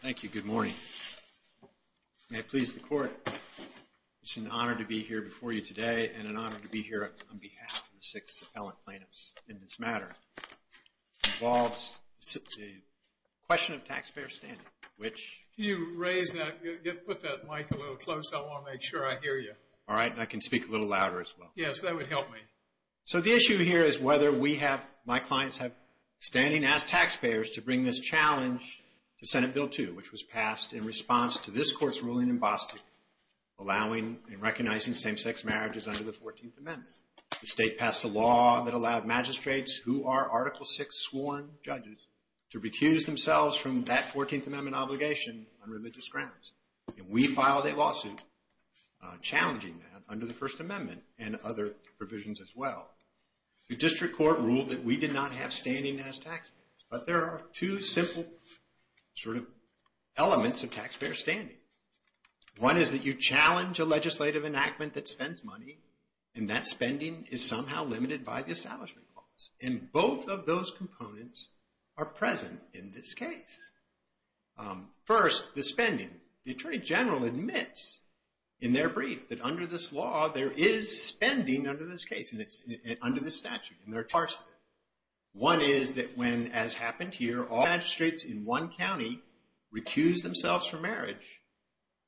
Thank you. Good morning. May it please the court. It's an honor to be here before you today and an honor to be here on behalf of the six appellant plaintiffs in this matter. It involves a question of taxpayer standing, which Can you put that mic a little closer? I want to make sure I hear you. All right, and I can speak a little louder as well. Yes, that would help me. So the issue here is whether we have, my clients have standing as taxpayers to bring this challenge to Senate Bill 2, which was passed in response to this court's ruling in Boston, allowing and recognizing same-sex marriages under the 14th Amendment. The state passed a law that allowed magistrates who are Article VI sworn judges to recuse themselves from that 14th Amendment obligation on religious grounds. And we filed a lawsuit challenging that under the First Amendment and other provisions as well. The district court ruled that we did not have standing as taxpayers, but there are two simple sort of elements of taxpayer standing. One is that you challenge a legislative enactment that spends money and that spending is somehow limited by the Establishment Clause. And both of those components are present in this case. First, the spending. The Attorney General admits in their brief that under this law, there is spending under this case, under this statute, and there are parts of it. One is that when, as happened here, all magistrates in one county recuse themselves from marriage,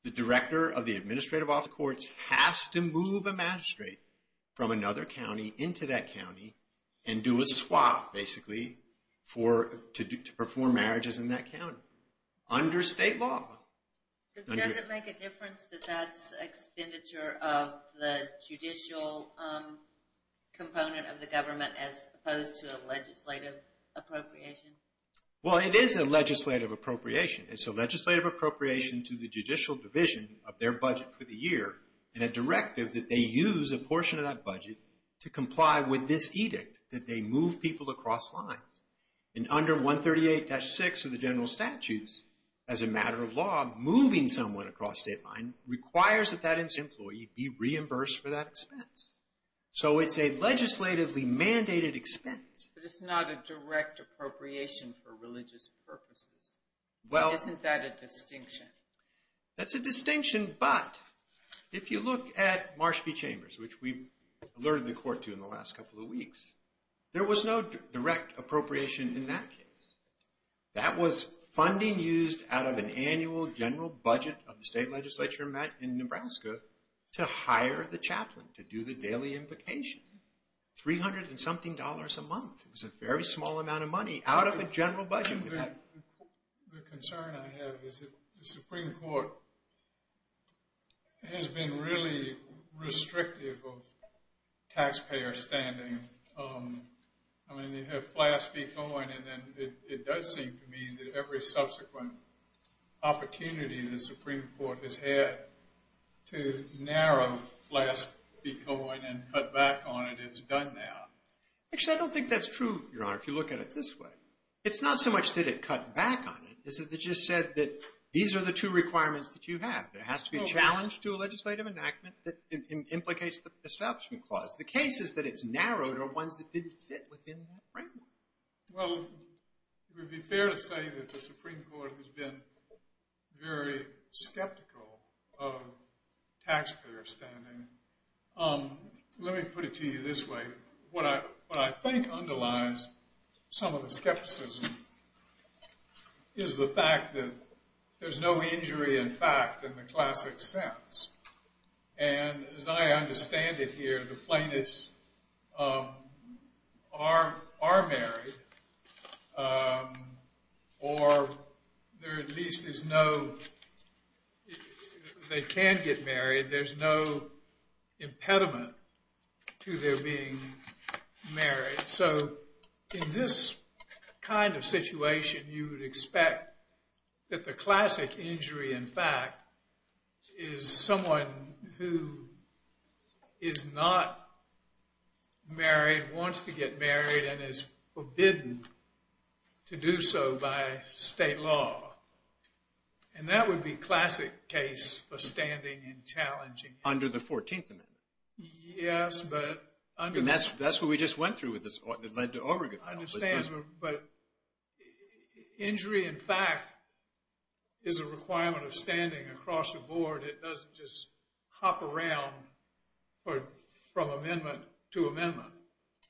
the Director of the Administrative Office of the Courts has to move a magistrate from another county into that county and do a swap, basically, to perform marriages in that county, under state law. So does it make a difference that that's expenditure of the judicial component of the government as opposed to a legislative appropriation? Well, it is a legislative appropriation. It's a legislative appropriation to the judicial division of their budget for the year and a directive that they use a portion of that budget to comply with this edict, that they move people across lines. And under 138-6 of the general statutes, as a matter of law, moving someone across state line requires that that employee be reimbursed for that expense. So it's a legislatively mandated expense. But it's not a direct appropriation for religious purposes. Isn't that a distinction? That's a distinction, but if you look at Marsh v. Chambers, which we alerted the court to in the last couple of weeks, there was no direct appropriation in that case. That was funding used out of an annual general budget of the state legislature in Nebraska to hire the chaplain to do the daily invocation. Three hundred and something dollars a month. It was a very small amount of money out of a general budget. The concern I have is that the Supreme Court has been really restrictive of taxpayer standing. I mean, you have Flask v. Coyne, and then it does seem to me that every subsequent opportunity the Supreme Court has had to narrow Flask v. Coyne and cut back on it, it's done now. Actually, I don't think that's true, Your Honor, if you look at it this way. It's not so much that it cut back on it, it's that they just said that these are the two requirements that you have. There has to be a challenge to a legislative enactment that implicates the Establishment Clause. The cases that it's narrowed are ones that didn't fit within that framework. Well, it would be fair to say that the Supreme Court has been very skeptical of taxpayer standing. Let me put it to you this way. What I think underlies some of the skepticism is the fact that there's no injury in fact in the classic sense. And as I understand it here, the plaintiffs are married, or there at least is no – they can get married. There's no impediment to their being married. So in this kind of situation, you would expect that the classic injury in fact is someone who is not married, wants to get married, and is forbidden to do so by state law. And that would be a classic case for standing and challenging it. Under the 14th Amendment. Yes, but under – And that's what we just went through that led to Obergefell. I understand, but injury in fact is a requirement of standing across the board. It doesn't just hop around from amendment to amendment.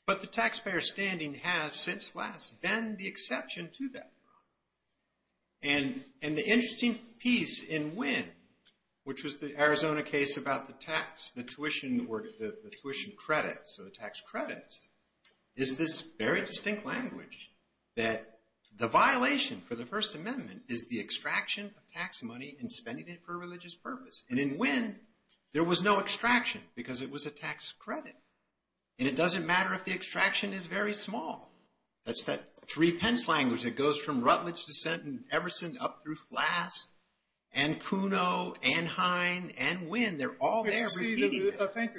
But the taxpayer standing has since last been the exception to that. And the interesting piece in Wynne, which was the Arizona case about the tax, the tuition credits, or the tax credits, is this very distinct language that the violation for the First Amendment is the extraction of tax money and spending it for a religious purpose. And in Wynne, there was no extraction because it was a tax credit. And it doesn't matter if the extraction is very small. That's that three-pence language that goes from Rutledge, Descent, and Everson up through Flask, and Kuno, and Hine, and Wynne. They're all there repeating that. I think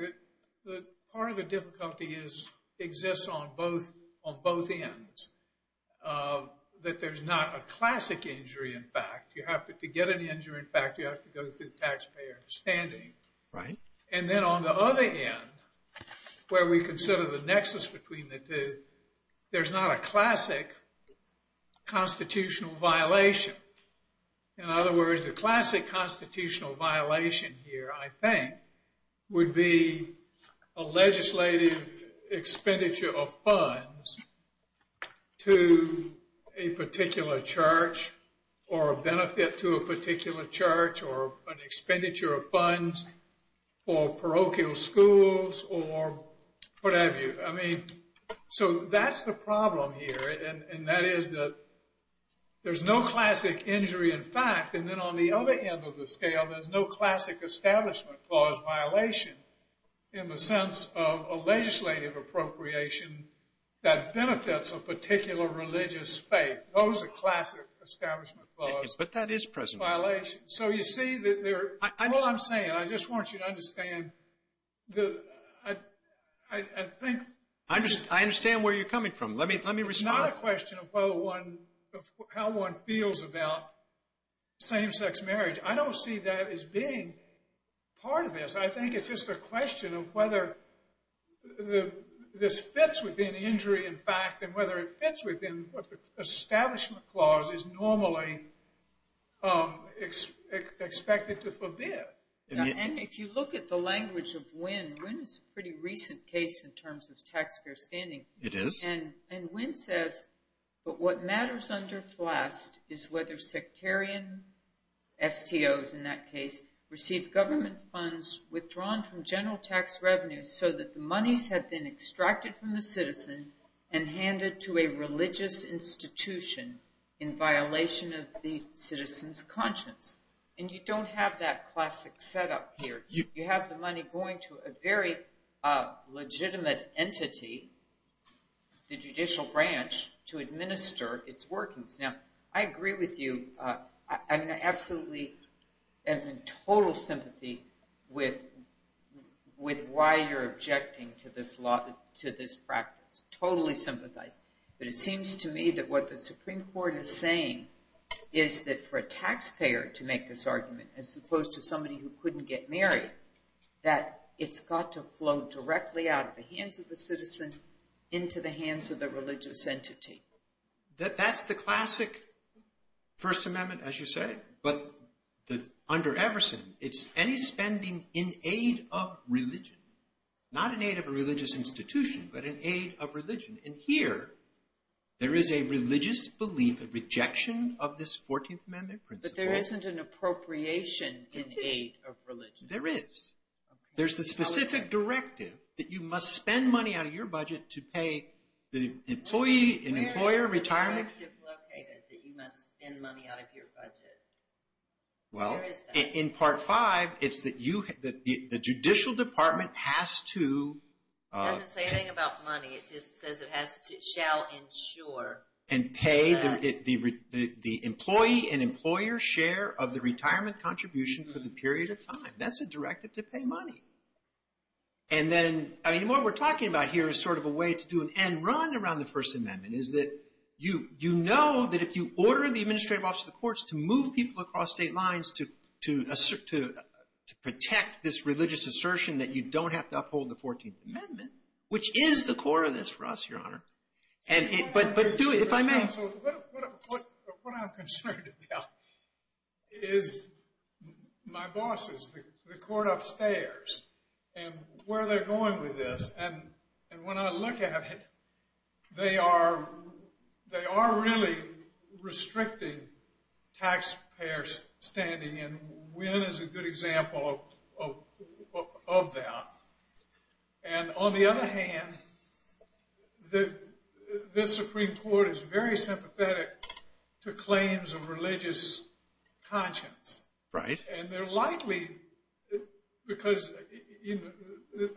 that part of the difficulty exists on both ends. That there's not a classic injury in fact. You have to get an injury in fact, you have to go through taxpayer standing. Right. And then on the other end, where we consider the nexus between the two, there's not a classic constitutional violation. In other words, the classic constitutional violation here, I think, would be a legislative expenditure of funds to a particular church, or a benefit to a particular church, or an expenditure of funds for parochial schools, or what have you. I mean, so that's the problem here. And that is that there's no classic injury in fact. And then on the other end of the scale, there's no classic establishment clause violation in the sense of a legislative appropriation that benefits a particular religious faith. Those are classic establishment clauses. But that is present. Violation. So you see that they're... All I'm saying, I just want you to understand, I think... I understand where you're coming from. Let me respond. It's not a question of how one feels about same-sex marriage. I don't see that as being part of this. I think it's just a question of whether this fits within injury in fact, and whether it fits within what the establishment clause is normally expected to forbid. And if you look at the language of Wynne, Wynne is a pretty recent case in terms of taxpayer spending. It is. And Wynne says, but what matters under FLAST is whether sectarian STOs in that case receive government funds withdrawn from general tax revenues so that the monies have been extracted from the citizen and handed to a religious institution in violation of the citizen's conscience. And you don't have that classic setup here. You have the money going to a very legitimate entity, the judicial branch, to administer its workings. Now, I agree with you. I mean, I absolutely and in total sympathy with why you're objecting to this practice. Totally sympathize. But it seems to me that what the Supreme Court is saying is that for a taxpayer to make this argument, as opposed to somebody who couldn't get married, that it's got to flow directly out of the hands of the citizen into the hands of the religious entity. That's the classic First Amendment, as you say. But under Everson, it's any spending in aid of religion. Not in aid of a religious institution, but in aid of religion. And here, there is a religious belief, a rejection of this 14th Amendment principle. But there isn't an appropriation in aid of religion. There is. There's the specific directive that you must spend money out of your budget to pay the employee and employer retirement. Where is the directive located that you must spend money out of your budget? Where is that? Well, in Part 5, it's that the judicial department has to... It doesn't say anything about money. It just says it shall insure. And pay the employee and employer share of the retirement contribution for the period of time. That's a directive to pay money. And then, I mean, what we're talking about here is sort of a way to do an end run around the First Amendment, is that you know that if you order the administrative office of the courts to move people across state lines to protect this religious assertion that you don't have to uphold the 14th Amendment, which is the core of this for us, Your Honor. But do it, if I may. What I'm concerned about is my bosses, the court upstairs, and where they're going with this. And when I look at it, they are really restricting taxpayer standing. And Wynne is a good example of that. And on the other hand, this Supreme Court is very sympathetic to claims of religious conscience. And they're likely, because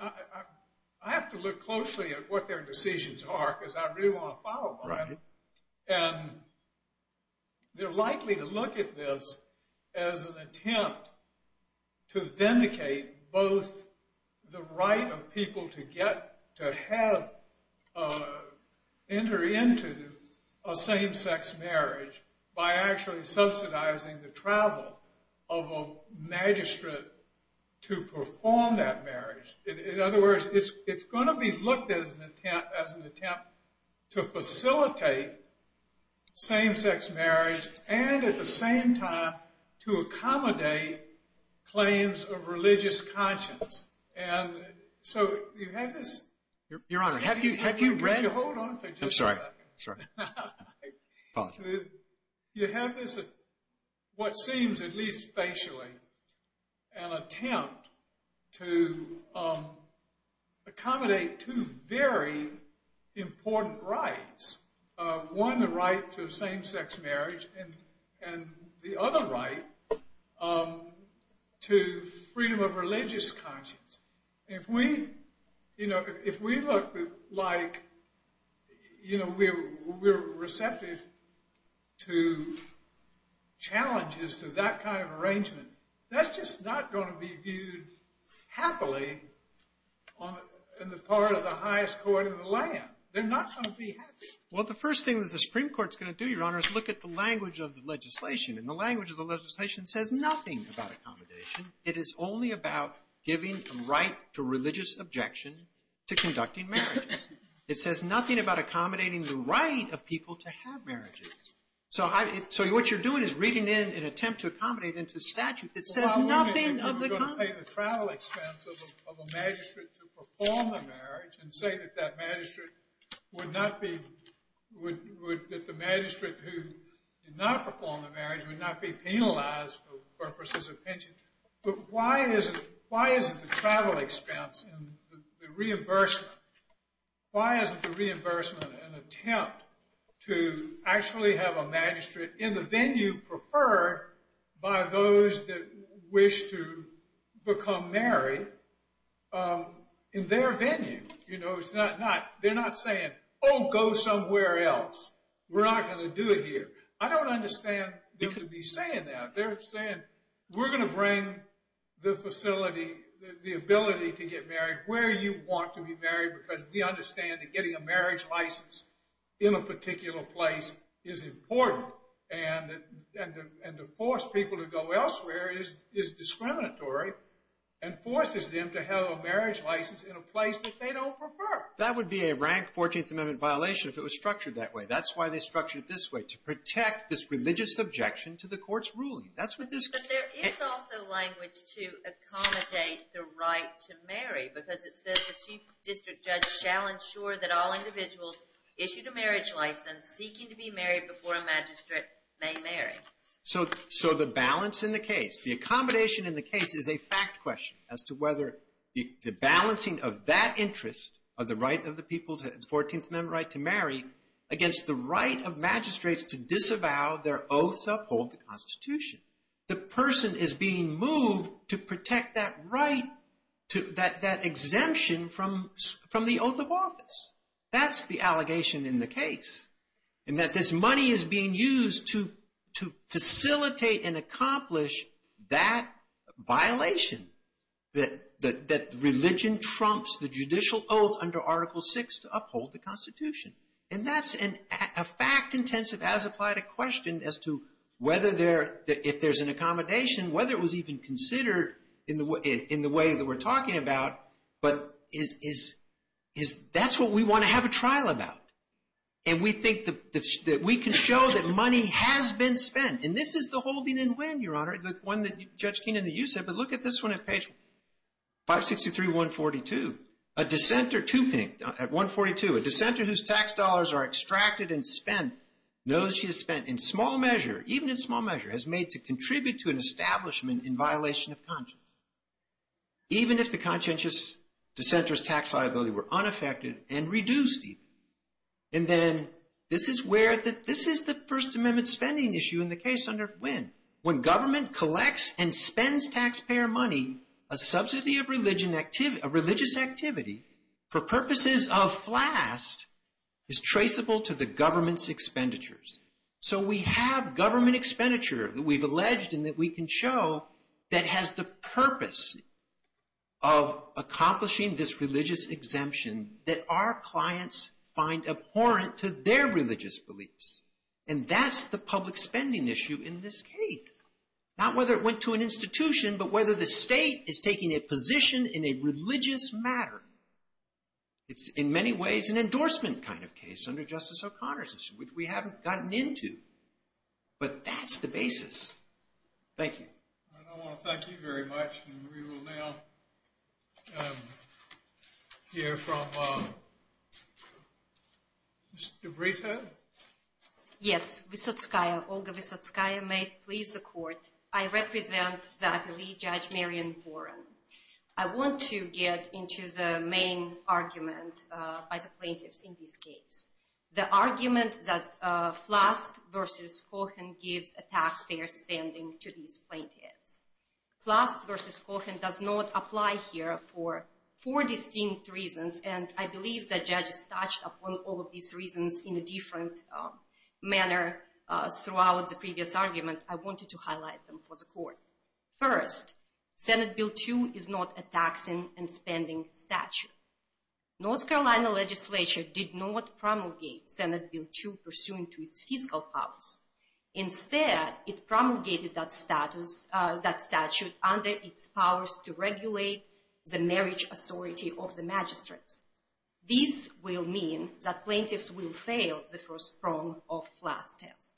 I have to look closely at what their decisions are, because I really want to follow them. And they're likely to look at this as an attempt to vindicate both the right of people to have, enter into a same-sex marriage by actually subsidizing the travel of a magistrate to perform that marriage. In other words, it's going to be looked at as an attempt to facilitate same-sex marriage and at the same time to accommodate claims of religious conscience. And so you have this... Your Honor, have you read... I'm sorry. Apologize. You have this, what seems at least facially, an attempt to accommodate two very important rights. One, the right to a same-sex marriage, and the other right to freedom of religious conscience. If we look like we're receptive to challenges to that kind of arrangement, that's just not going to be viewed happily in the part of the highest court in the land. They're not going to be happy. Well, the first thing that the Supreme Court's going to do, Your Honor, is look at the language of the legislation. And the language of the legislation says nothing about accommodation. It is only about giving a right to religious objection to conducting marriages. It says nothing about accommodating the right of people to have marriages. So what you're doing is reading in an attempt to accommodate into statute that says nothing of the... Well, how long is it going to take the travel expense of a magistrate to perform the marriage and say that that magistrate would not be... But why isn't the travel expense and the reimbursement, why isn't the reimbursement an attempt to actually have a magistrate in the venue preferred by those that wish to become married in their venue? You know, they're not saying, oh, go somewhere else. We're not going to do it here. I don't understand them to be saying that. They're saying we're going to bring the facility, the ability to get married where you want to be married because we understand that getting a marriage license in a particular place is important and to force people to go elsewhere is discriminatory and forces them to have a marriage license in a place that they don't prefer. That would be a rank 14th Amendment violation if it was structured that way. That's why they structure it this way, to protect this religious objection to the court's ruling. That's what this... But there is also language to accommodate the right to marry because it says the chief district judge shall ensure that all individuals issued a marriage license seeking to be married before a magistrate may marry. So the balance in the case, the accommodation in the case is a fact question as to whether the balancing of that interest of the right of the people to 14th Amendment right to marry against the right of magistrates to disavow their oaths to uphold the Constitution. The person is being moved to protect that right, that exemption from the oath of office. That's the allegation in the case. And that this money is being used to facilitate and accomplish that violation that religion trumps the judicial oath under Article VI to uphold the Constitution. And that's a fact intensive as applied a question as to whether there, if there's an accommodation, whether it was even considered in the way that we're talking about. But that's what we want to have a trial about. And we think that we can show that money has been spent. And this is the holding and when, Your Honor, the one that Judge Keenan, that you said. But look at this one at page 563, 142. A dissenter to paint, at 142, a dissenter whose tax dollars are extracted and spent, knows she has spent in small measure, even in small measure, has made to contribute to an establishment in violation of conscience. Even if the conscientious dissenter's tax liability were unaffected and reduced even. And then this is where the, this is the First Amendment spending issue in the case under when. When government collects and spends taxpayer money, a subsidy of religion, a religious activity for purposes of flask is traceable to the government's expenditures. So we have government expenditure that we've alleged and that we can show that has the purpose of accomplishing this religious exemption that our clients find abhorrent to their religious beliefs. And that's the public spending issue in this case. Not whether it went to an institution, but whether the state is taking a position in a religious matter. It's in many ways an endorsement kind of case under Justice O'Connor's issue, which we haven't gotten into. But that's the basis. Thank you. I want to thank you very much. And we will now hear from Mr. Brito. Yes. Olga Vysotskaya may please the court. I represent the Attorney Judge Marion Warren. I want to get into the main argument by the plaintiffs in this case. The argument that Flask versus Cohen gives a taxpayer spending to these plaintiffs. Flask versus Cohen does not apply here for four distinct reasons. And I believe that judges touched upon all of these reasons in a different manner throughout the previous argument. I wanted to highlight them for the court. First, Senate Bill 2 is not a taxing and spending statute. North Carolina legislature did not promulgate Senate Bill 2 pursuant to its fiscal powers. Instead, it promulgated that statute under its powers to regulate the marriage authority of the magistrates. This will mean that plaintiffs will fail the first prong of Flask test.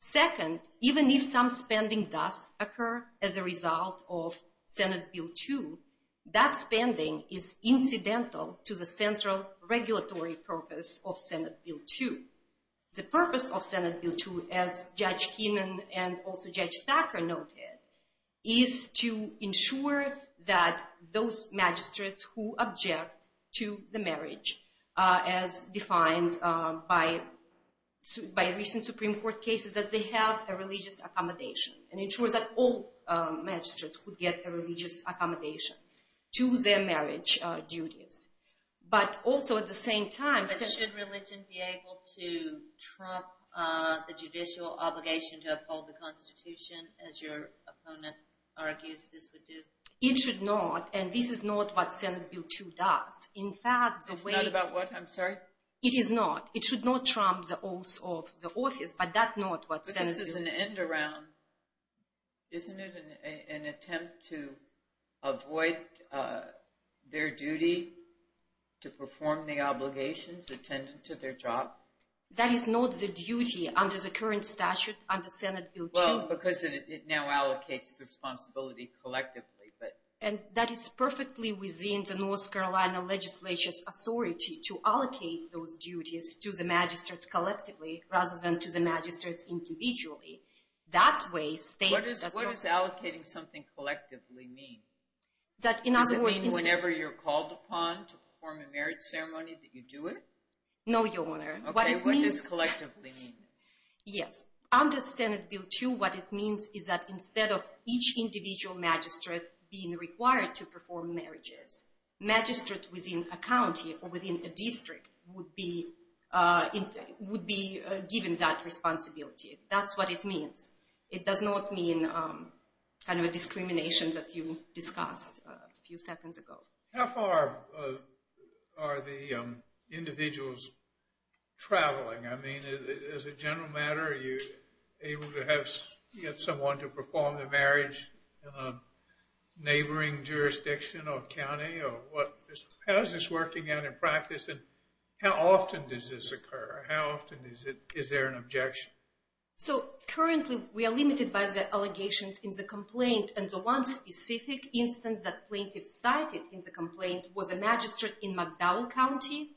Second, even if some spending does occur as a result of Senate Bill 2, that spending is incidental to the central regulatory purpose of Senate Bill 2. The purpose of Senate Bill 2, as Judge Keenan and also Judge Thacker noted, is to ensure that those magistrates who object to the marriage, as defined by recent Supreme Court cases, that they have a religious accommodation. And ensures that all magistrates could get a religious accommodation to their marriage duties. But also at the same time... But should religion be able to trump the judicial obligation to uphold the Constitution as your opponent argues this would do? It should not, and this is not what Senate Bill 2 does. It's not about what, I'm sorry? It is not. It should not trump the oaths of the office, but that's not what Senate Bill 2... This is an end around, isn't it an attempt to avoid their duty to perform the obligations attendant to their job? That is not the duty under the current statute under Senate Bill 2. Well, because it now allocates the responsibility collectively, but... And that is perfectly within the North Carolina Legislature's authority to allocate those duties to the magistrates collectively rather than to the magistrates individually. That way... What does allocating something collectively mean? That in other words... Does it mean whenever you're called upon to perform a marriage ceremony that you do it? No, Your Honor. Okay, what does collectively mean? Yes, under Senate Bill 2 what it means is that instead of each individual magistrate being required to perform marriages, magistrate within a county or within a district would be given that responsibility. That's what it means. It does not mean kind of a discrimination that you discussed a few seconds ago. How far are the individuals traveling? I mean, as a general matter, are you able to get someone to perform the marriage in a neighboring jurisdiction or county or what? How is this working out in practice? And how often does this occur? How often is there an objection? So currently we are limited by the allegations in the complaint. And the one specific instance that plaintiff cited in the complaint was a magistrate in McDowell County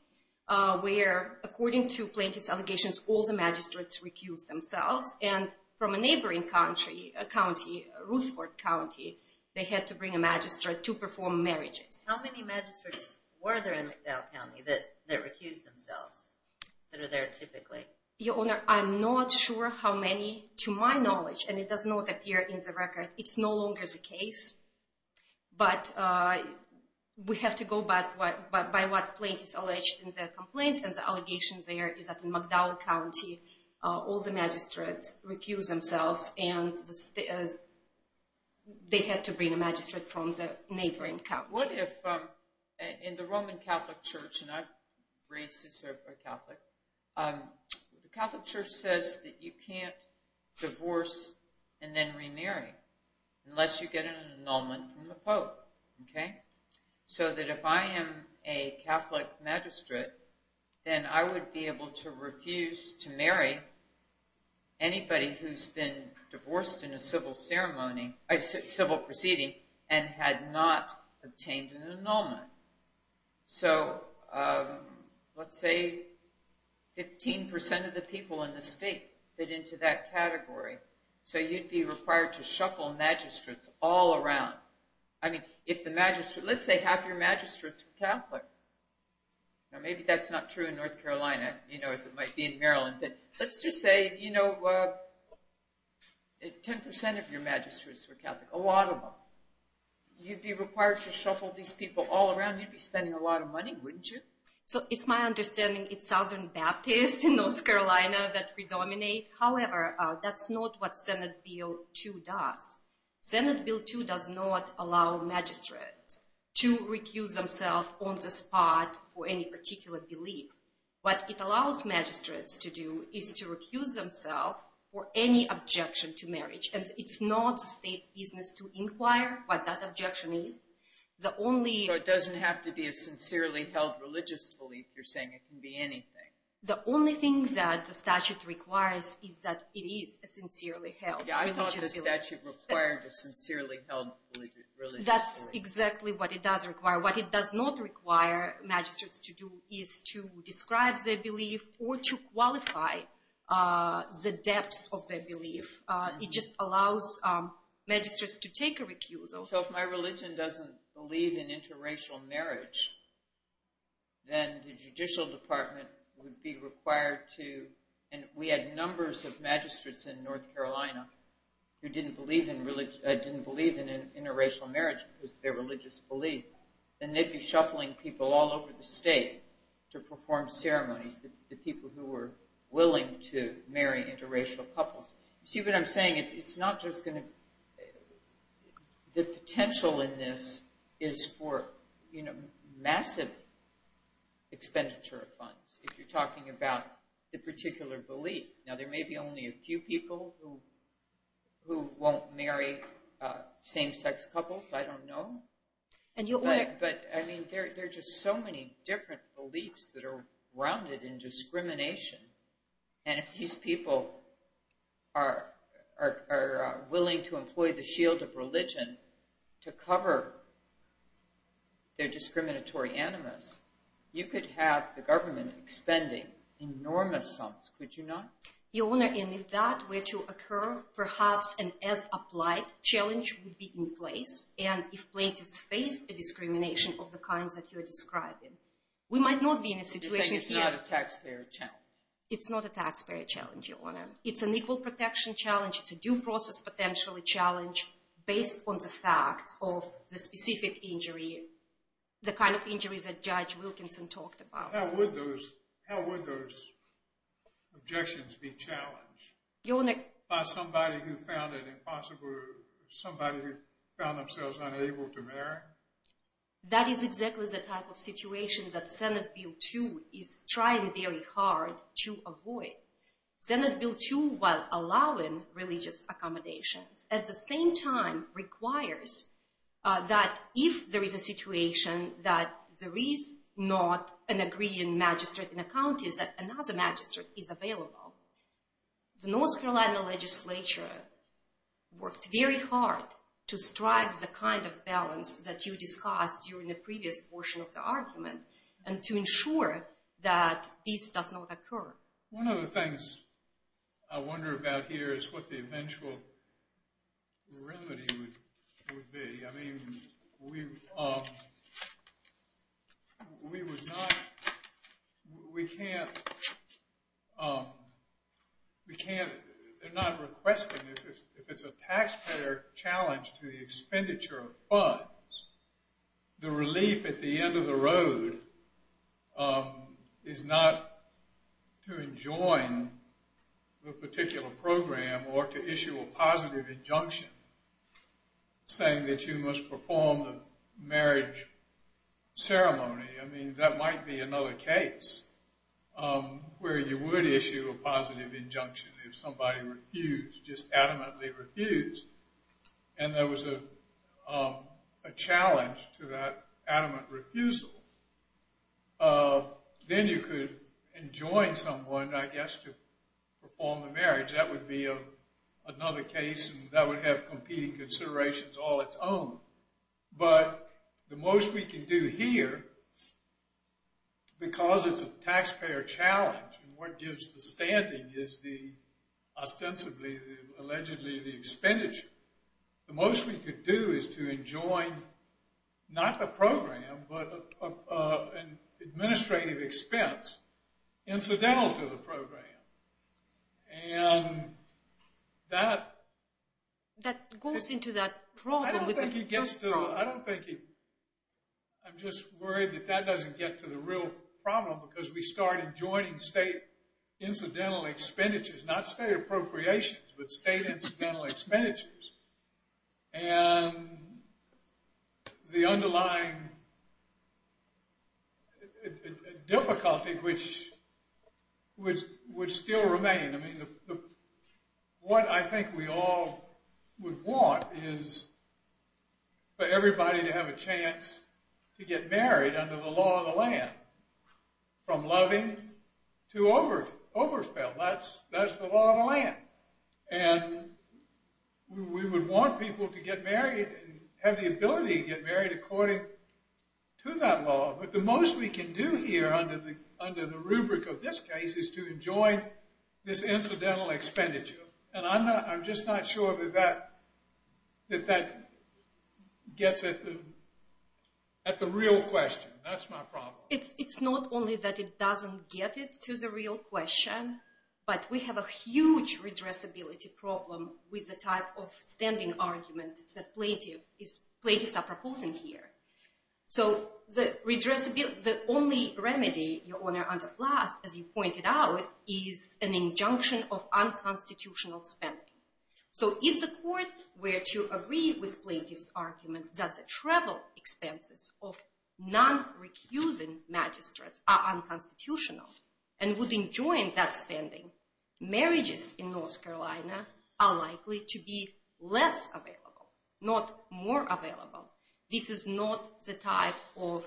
where according to plaintiff's allegations all the magistrates recused themselves. And from a neighboring country, a county, Ruthford County, they had to bring a magistrate to perform marriages. How many magistrates were there in McDowell County that recused themselves that are there typically? Your Honor, I'm not sure how many to my knowledge. And it does not appear in the record. It's no longer the case. But we have to go by what plaintiff alleged in the complaint. And the allegations there is that in McDowell County all the magistrates recused themselves and they had to bring a magistrate from the neighboring county. What if in the Roman Catholic Church, and I was raised to serve a Catholic, the Catholic Church says that you can't divorce and then remarry unless you get an annulment from the Pope. So that if I am a Catholic magistrate, then I would be able to refuse to marry anybody who's been divorced in a civil proceeding and had not obtained an annulment. So let's say 15% of the people in the state fit into that category. So you'd be required to shuffle magistrates all around. I mean, if the magistrate, let's say half your magistrates were Catholic. Now maybe that's not true in North Carolina, you know, as it might be in Maryland. But let's just say, you know, 10% of your magistrates were Catholic, a lot of them. You'd be required to shuffle these people all around. You'd be spending a lot of money, wouldn't you? So it's my understanding it's Southern Baptists in North Carolina that predominate. However, that's not what Senate Bill 2 does. Senate Bill 2 does not allow magistrates to recuse themselves on the spot for any particular belief. What it allows magistrates to do is to recuse themselves for any objection to marriage. And it's not the state's business to inquire what that objection is. The only— So it doesn't have to be a sincerely held religious belief you're saying? It can be anything. The only thing that the statute requires is that it is a sincerely held religious belief. Yeah, I thought the statute required a sincerely held religious belief. That's exactly what it does require. What it does not require magistrates to do is to describe their belief or to qualify the depths of their belief. It just allows magistrates to take a recusal. So if my religion doesn't believe in interracial marriage, then the judicial department would be required to— who didn't believe in interracial marriage because of their religious belief, then they'd be shuffling people all over the state to perform ceremonies, the people who were willing to marry interracial couples. You see what I'm saying? It's not just going to— The potential in this is for massive expenditure of funds if you're talking about the particular belief. Now, there may be only a few people who won't marry same-sex couples. I don't know. But, I mean, there are just so many different beliefs that are rounded in discrimination. And if these people are willing to employ the shield of religion to cover their discriminatory animus, you could have the government expending enormous sums. Could you not? Your Honor, and if that were to occur, perhaps an as-applied challenge would be in place, and if plaintiffs face a discrimination of the kinds that you're describing. We might not be in a situation here— You're saying it's not a taxpayer challenge. It's not a taxpayer challenge, Your Honor. It's an equal protection challenge. It's a due process potential challenge based on the facts of the specific injury, the kind of injuries that Judge Wilkinson talked about. How would those objections be challenged by somebody who found it impossible, somebody who found themselves unable to marry? That is exactly the type of situation that Senate Bill 2 is trying very hard to avoid. Senate Bill 2, while allowing religious accommodations, at the same time requires that if there is a situation that there is not an agreeing magistrate in the counties, that another magistrate is available. The North Carolina legislature worked very hard to strike the kind of balance that you discussed during the previous portion of the argument and to ensure that this does not occur. One of the things I wonder about here is what the eventual remedy would be. I mean, we would not—we can't—we can't—they're not requesting, if it's a taxpayer challenge to the expenditure of funds, the relief at the end of the road is not to enjoin the particular program or to issue a positive injunction saying that you must perform the marriage ceremony. I mean, that might be another case where you would issue a positive injunction if somebody refused, just adamantly refused. And there was a challenge to that adamant refusal. Then you could enjoin someone, I guess, to perform the marriage. That would be another case, and that would have competing considerations all its own. But the most we can do here, because it's a taxpayer challenge, and what gives the standing is ostensibly, allegedly, the expenditure. The most we could do is to enjoin, not the program, but an administrative expense incidental to the program. And that— That goes into that problem with— I don't think it gets to—I don't think it— I'm just worried that that doesn't get to the real problem because we started enjoining state incidental expenditures, not state appropriations, but state incidental expenditures. And the underlying difficulty, which would still remain. What I think we all would want is for everybody to have a chance to get married under the law of the land, from loving to overspend. That's the law of the land. And we would want people to get married and have the ability to get married according to that law. But the most we can do here under the rubric of this case is to enjoin this incidental expenditure. And I'm just not sure that that gets at the real question. That's my problem. It's not only that it doesn't get it to the real question, but we have a huge redressability problem with the type of standing argument that plaintiffs are proposing here. So the only remedy, Your Honor, under Flast, as you pointed out, is an injunction of unconstitutional spending. So if the court were to agree with plaintiff's argument that the travel expenses of non-recusing magistrates are unconstitutional and would enjoin that spending, marriages in North Carolina are likely to be less available, not more available. This is not the type of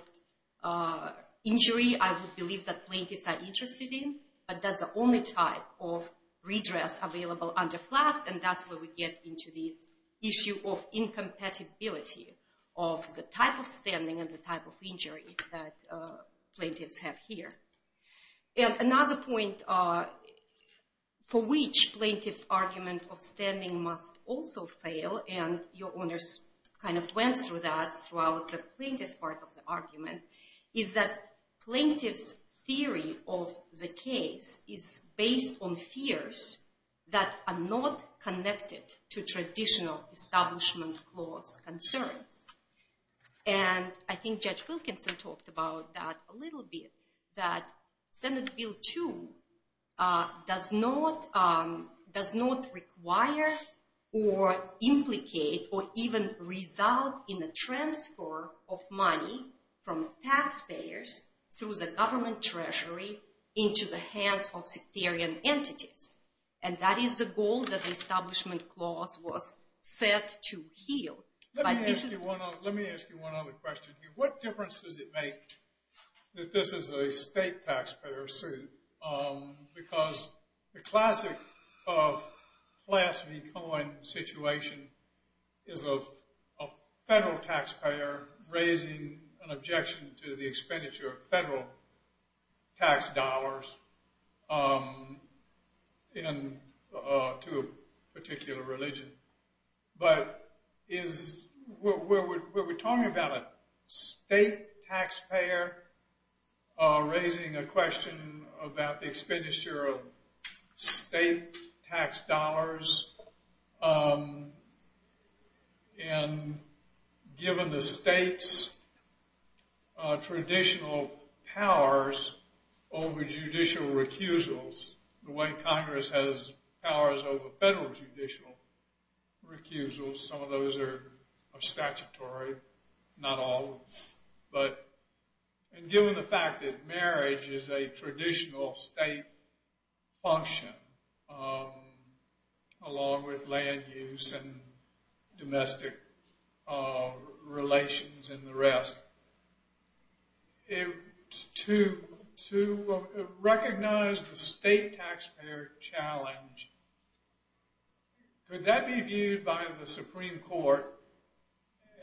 injury I would believe that plaintiffs are interested in, but that's the only type of redress available under Flast, and that's where we get into this issue of incompatibility of the type of standing and the type of injury that plaintiffs have here. Another point for which plaintiff's argument of standing must also fail, and Your Honors kind of went through that throughout the plaintiff's part of the argument, is that plaintiff's theory of the case is based on fears that are not connected to traditional establishment clause concerns. And I think Judge Wilkinson talked about that a little bit, that Senate Bill 2 does not require or implicate or even result in the transfer of money from taxpayers through the government treasury into the hands of sectarian entities. And that is the goal that the establishment clause was set to heal. Let me ask you one other question. What difference does it make that this is a state taxpayer suit? Because the classic Flast v. Cohen situation is of a federal taxpayer raising an objection to the expenditure of federal tax dollars to a particular religion. But we're talking about a state taxpayer raising a question about the expenditure of state tax dollars, and given the state's traditional powers over judicial recusals, the way Congress has powers over federal judicial recusals, some of those are statutory, not all, but given the fact that marriage is a traditional state function, along with land use and domestic relations and the rest, to recognize the state taxpayer challenge, could that be viewed by the Supreme Court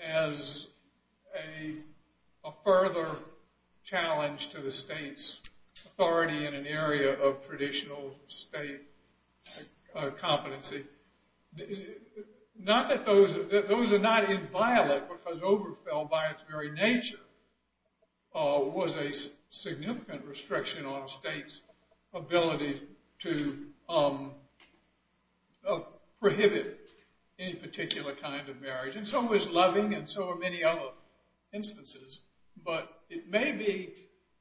as a further challenge to the state's authority in an area of traditional state competency? Not that those are not inviolate, because overfill by its very nature was a significant restriction on a state's ability to prohibit any particular kind of marriage. And so is loving, and so are many other instances. But it may be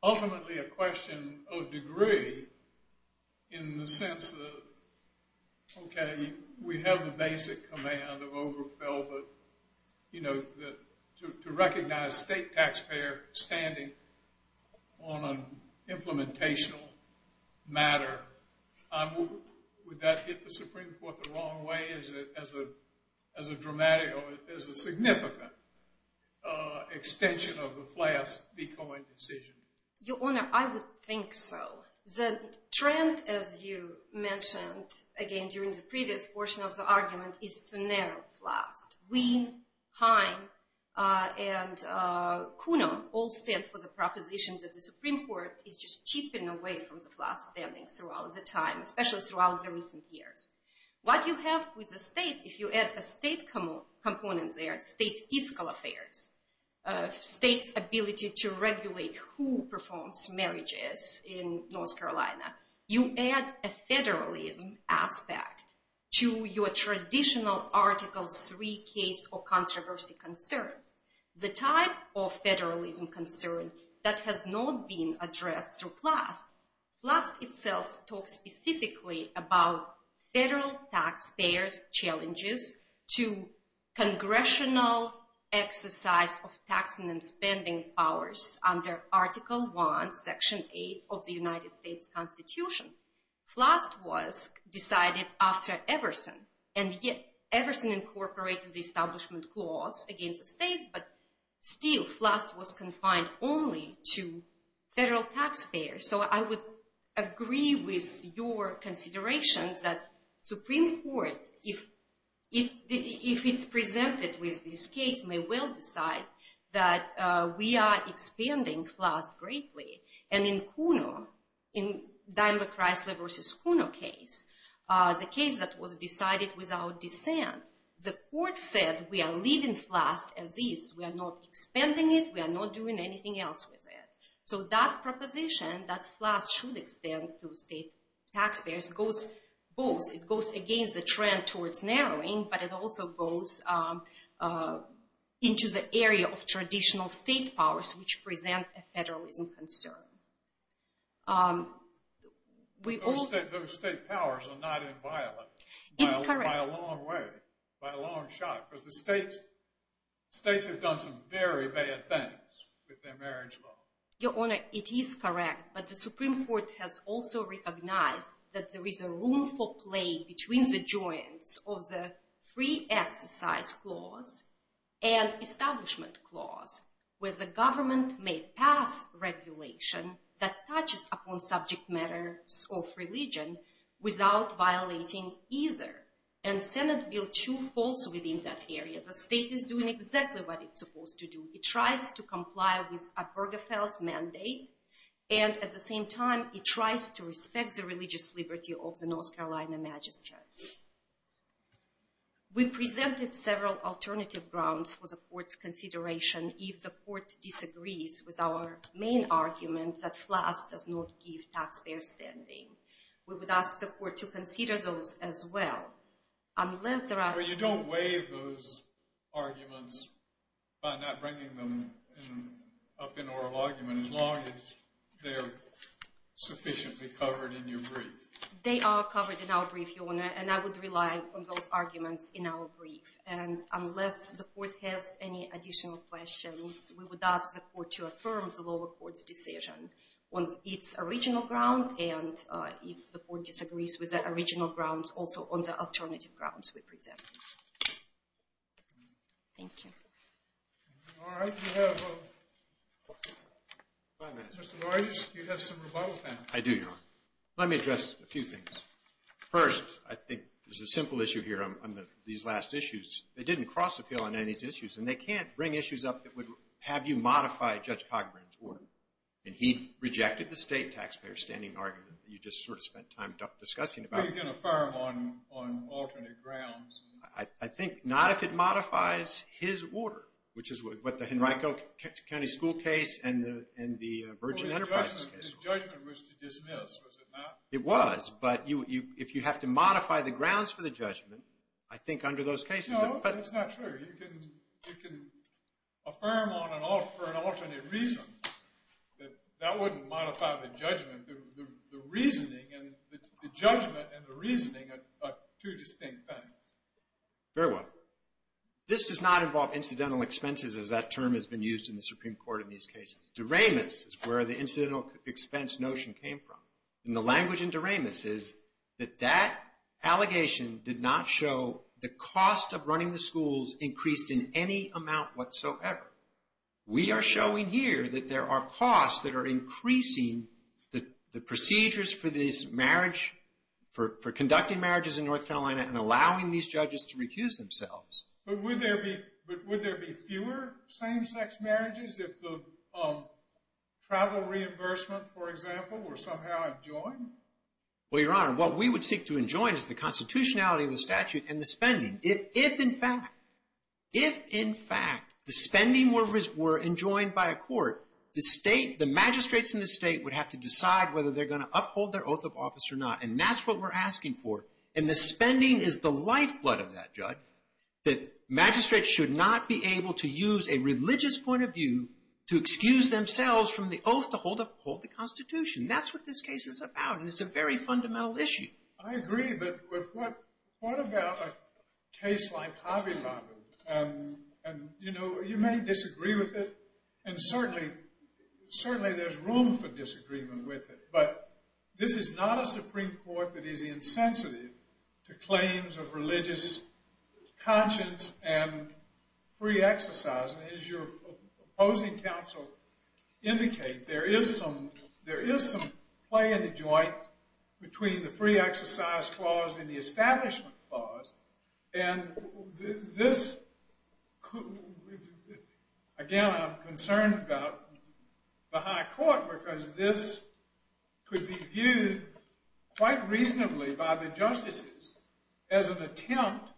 ultimately a question of degree in the sense that, okay, we have the basic command of overfill, but to recognize state taxpayer standing on an implementation matter, would that hit the Supreme Court the wrong way as a dramatic or as a significant extension of the Flass-Becoin decision? Your Honor, I would think so. The trend, as you mentioned, again, during the previous portion of the argument, is to narrow Flass. Wien, Heim, and Kuno all stand for the proposition that the Supreme Court is just chipping away from the Flass standing throughout the time, especially throughout the recent years. What you have with the state, if you add a state component there, state fiscal affairs, state's ability to regulate who performs marriages in North Carolina, you add a federalism aspect to your traditional Article III case or controversy concerns, the type of federalism concern that has not been addressed through Flass. Flass itself talks specifically about federal taxpayers' challenges to congressional exercise of tax and spending powers under Article I, Section 8 of the United States Constitution. Flass was decided after Everson, and yet Everson incorporated the Establishment Clause against the states, but still Flass was confined only to federal taxpayers. So I would agree with your considerations that Supreme Court, if it's presented with this case, may well decide that we are expanding Flass greatly. And in Kuno, in Daimler-Chrysler v. Kuno case, the case that was decided without dissent, the court said we are leaving Flass as is. We are not expanding it. We are not doing anything else with it. So that proposition that Flass should extend to state taxpayers goes both. It goes against the trend towards narrowing, but it also goes into the area of traditional state powers which present a federalism concern. Those state powers are not inviolate. It's correct. By a long way, by a long shot, because the states have done some very bad things with their marriage law. Your Honor, it is correct, but the Supreme Court has also recognized that there is a room for play between the joints of the free exercise clause and establishment clause, where the government may pass regulation that touches upon subject matters of religion without violating either. And Senate Bill 2 falls within that area. The state is doing exactly what it's supposed to do. It tries to comply with Obergefell's mandate, and at the same time, it tries to respect the religious liberty of the North Carolina magistrates. We presented several alternative grounds for the court's consideration if the court disagrees with our main argument that Flass does not give taxpayers standing. We would ask the court to consider those as well. You don't waive those arguments by not bringing them up in oral argument. As long as they're sufficiently covered in your brief. They are covered in our brief, Your Honor, and I would rely on those arguments in our brief. And unless the court has any additional questions, we would ask the court to affirm the lower court's decision on its original ground, and if the court disagrees with the original grounds, also on the alternative grounds we presented. Thank you. All right, we have five minutes. Mr. Dorges, you have some rebuttal time. I do, Your Honor. Let me address a few things. First, I think there's a simple issue here on these last issues. They didn't cross the field on any of these issues, and they can't bring issues up that would have you modify Judge Cogburn's order. And he rejected the state taxpayer standing argument that you just sort of spent time discussing about. He's going to affirm on alternate grounds. I think not if it modifies his order, which is what the Henrico County School case and the Virgin Enterprises case. Well, his judgment was to dismiss, was it not? It was, but if you have to modify the grounds for the judgment, I think under those cases... No, that's not true. You can affirm on an alternate reason that that wouldn't modify the judgment. The reasoning and the judgment and the reasoning are two distinct things. Very well. This does not involve incidental expenses, as that term has been used in the Supreme Court in these cases. Duraimus is where the incidental expense notion came from. And the language in Duraimus is that that allegation did not show the cost of running the schools increased in any amount whatsoever. We are showing here that there are costs that are increasing the procedures for conducting marriages in North Carolina and allowing these judges to recuse themselves. But would there be fewer same-sex marriages if the travel reimbursement, for example, were somehow adjoined? Well, Your Honor, what we would seek to adjoin is the constitutionality of the statute and the spending. If, in fact, the spending were adjoined by a court, the magistrates in the state would have to decide whether they're going to uphold their oath of office or not. And that's what we're asking for. And the spending is the lifeblood of that, Judge, that magistrates should not be able to use a religious point of view to excuse themselves from the oath to uphold the constitution. That's what this case is about, and it's a very fundamental issue. I agree, but what about a case like Hobby Lobby? And, you know, you may disagree with it, and certainly there's room for disagreement with it, but this is not a Supreme Court that is insensitive to claims of religious conscience and free exercise. And as your opposing counsel indicates, there is some play in the joint between the free exercise clause and the establishment clause, and this could... Again, I'm concerned about the high court because this could be viewed quite reasonably by the justices as an attempt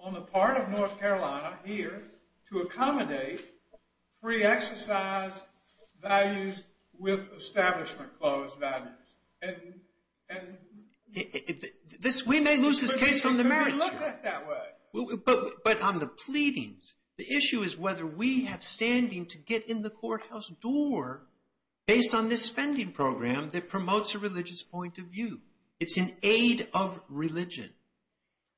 on the part of North Carolina here to accommodate free exercise values with establishment clause values. And... We may lose this case on the merits here. But on the pleadings, the issue is whether we have standing to get in the courthouse door based on this spending program that promotes a religious point of view. It's an aid of religion.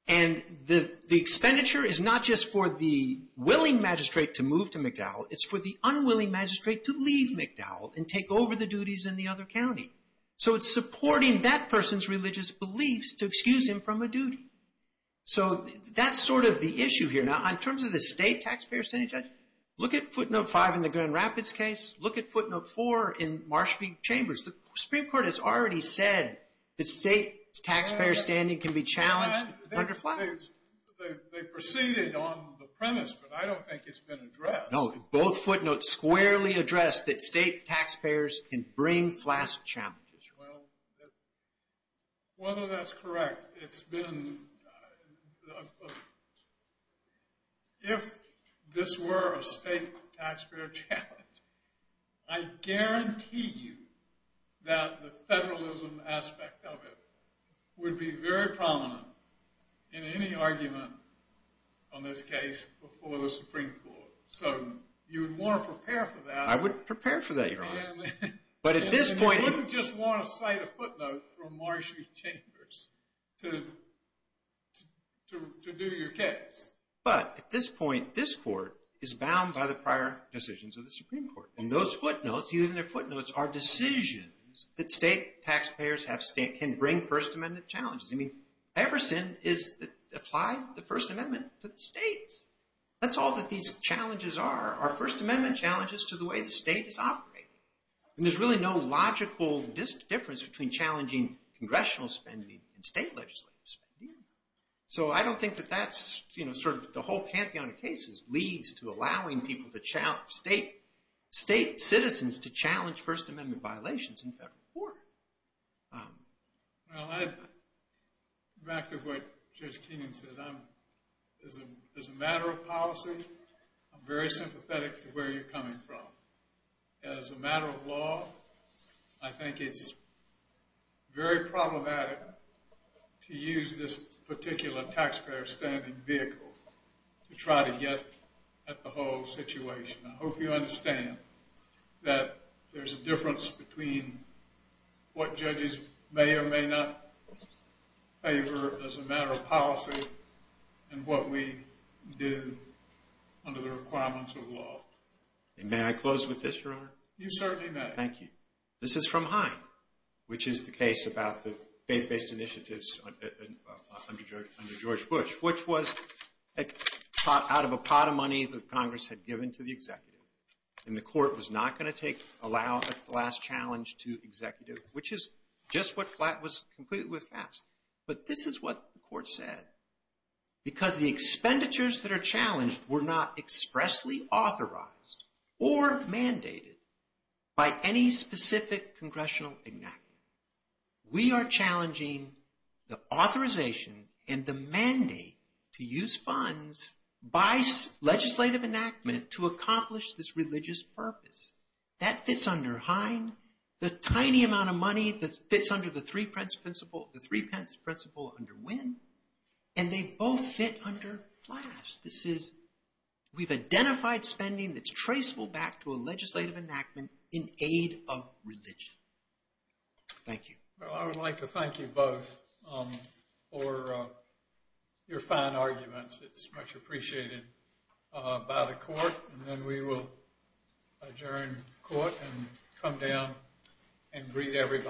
And the expenditure is not just for the willing magistrate to move to McDowell, it's for the unwilling magistrate to leave McDowell and take over the duties in the other county. So it's supporting that person's religious beliefs to excuse him from a duty. So that's sort of the issue here. Now, in terms of the state taxpayer standing judgment, look at footnote five in the Grand Rapids case, look at footnote four in Marsh v. Chambers. The Supreme Court has already said that state taxpayer standing can be challenged under FLAGS. They proceeded on the premise, but I don't think it's been addressed. No, both footnotes squarely address that state taxpayers can bring FLAGS challenges. Well, whether that's correct, it's been... If this were a state taxpayer challenge, I guarantee you that the federalism aspect of it would be very prominent in any argument on this case before the Supreme Court. So you would want to prepare for that. I would prepare for that, Your Honor. But at this point... You wouldn't just want to cite a footnote from Marsh v. Chambers to do your case. But at this point, this court is bound by the prior decisions of the Supreme Court. And those footnotes, even their footnotes, are decisions that state taxpayers can bring First Amendment challenges. I mean, Everson applied the First Amendment to the state. That's all that these challenges are, are First Amendment challenges to the way the state is operating. And there's really no logical difference between challenging congressional spending and state legislative spending. So I don't think that that's, you know, sort of the whole pantheon of cases leads to allowing people to challenge... state citizens to challenge First Amendment violations in federal court. Well, I'd back up what Judge Kenyon said. As a matter of policy, I'm very sympathetic to where you're coming from. As a matter of law, I think it's very problematic to use this particular taxpayer spending vehicle to try to get at the whole situation. I hope you understand that there's a difference between what judges may or may not favor as a matter of policy and what we do under the requirements of law. And may I close with this, Your Honor? You certainly may. Thank you. This is from Hine, which is the case about the faith-based initiatives under George Bush, which was out of a pot of money that Congress had given to the executive. And the court was not going to take, allow a flat challenge to executive, which is just what flat was completely with fast. But this is what the court said. Because the expenditures that are challenged were not expressly authorized or mandated by any specific congressional enactment. We are challenging the authorization and the mandate to use funds by legislative enactment to accomplish this religious purpose. That fits under Hine. The tiny amount of money that fits under the three-pence principle, the three-pence principle under Wynne. And they both fit under fast. This is, we've identified spending that's traceable back to a legislative enactment in aid of religion. Thank you. Well, I would like to thank you both for your fine arguments. It's much appreciated by the court. And then we will adjourn court and come down and greet everybody.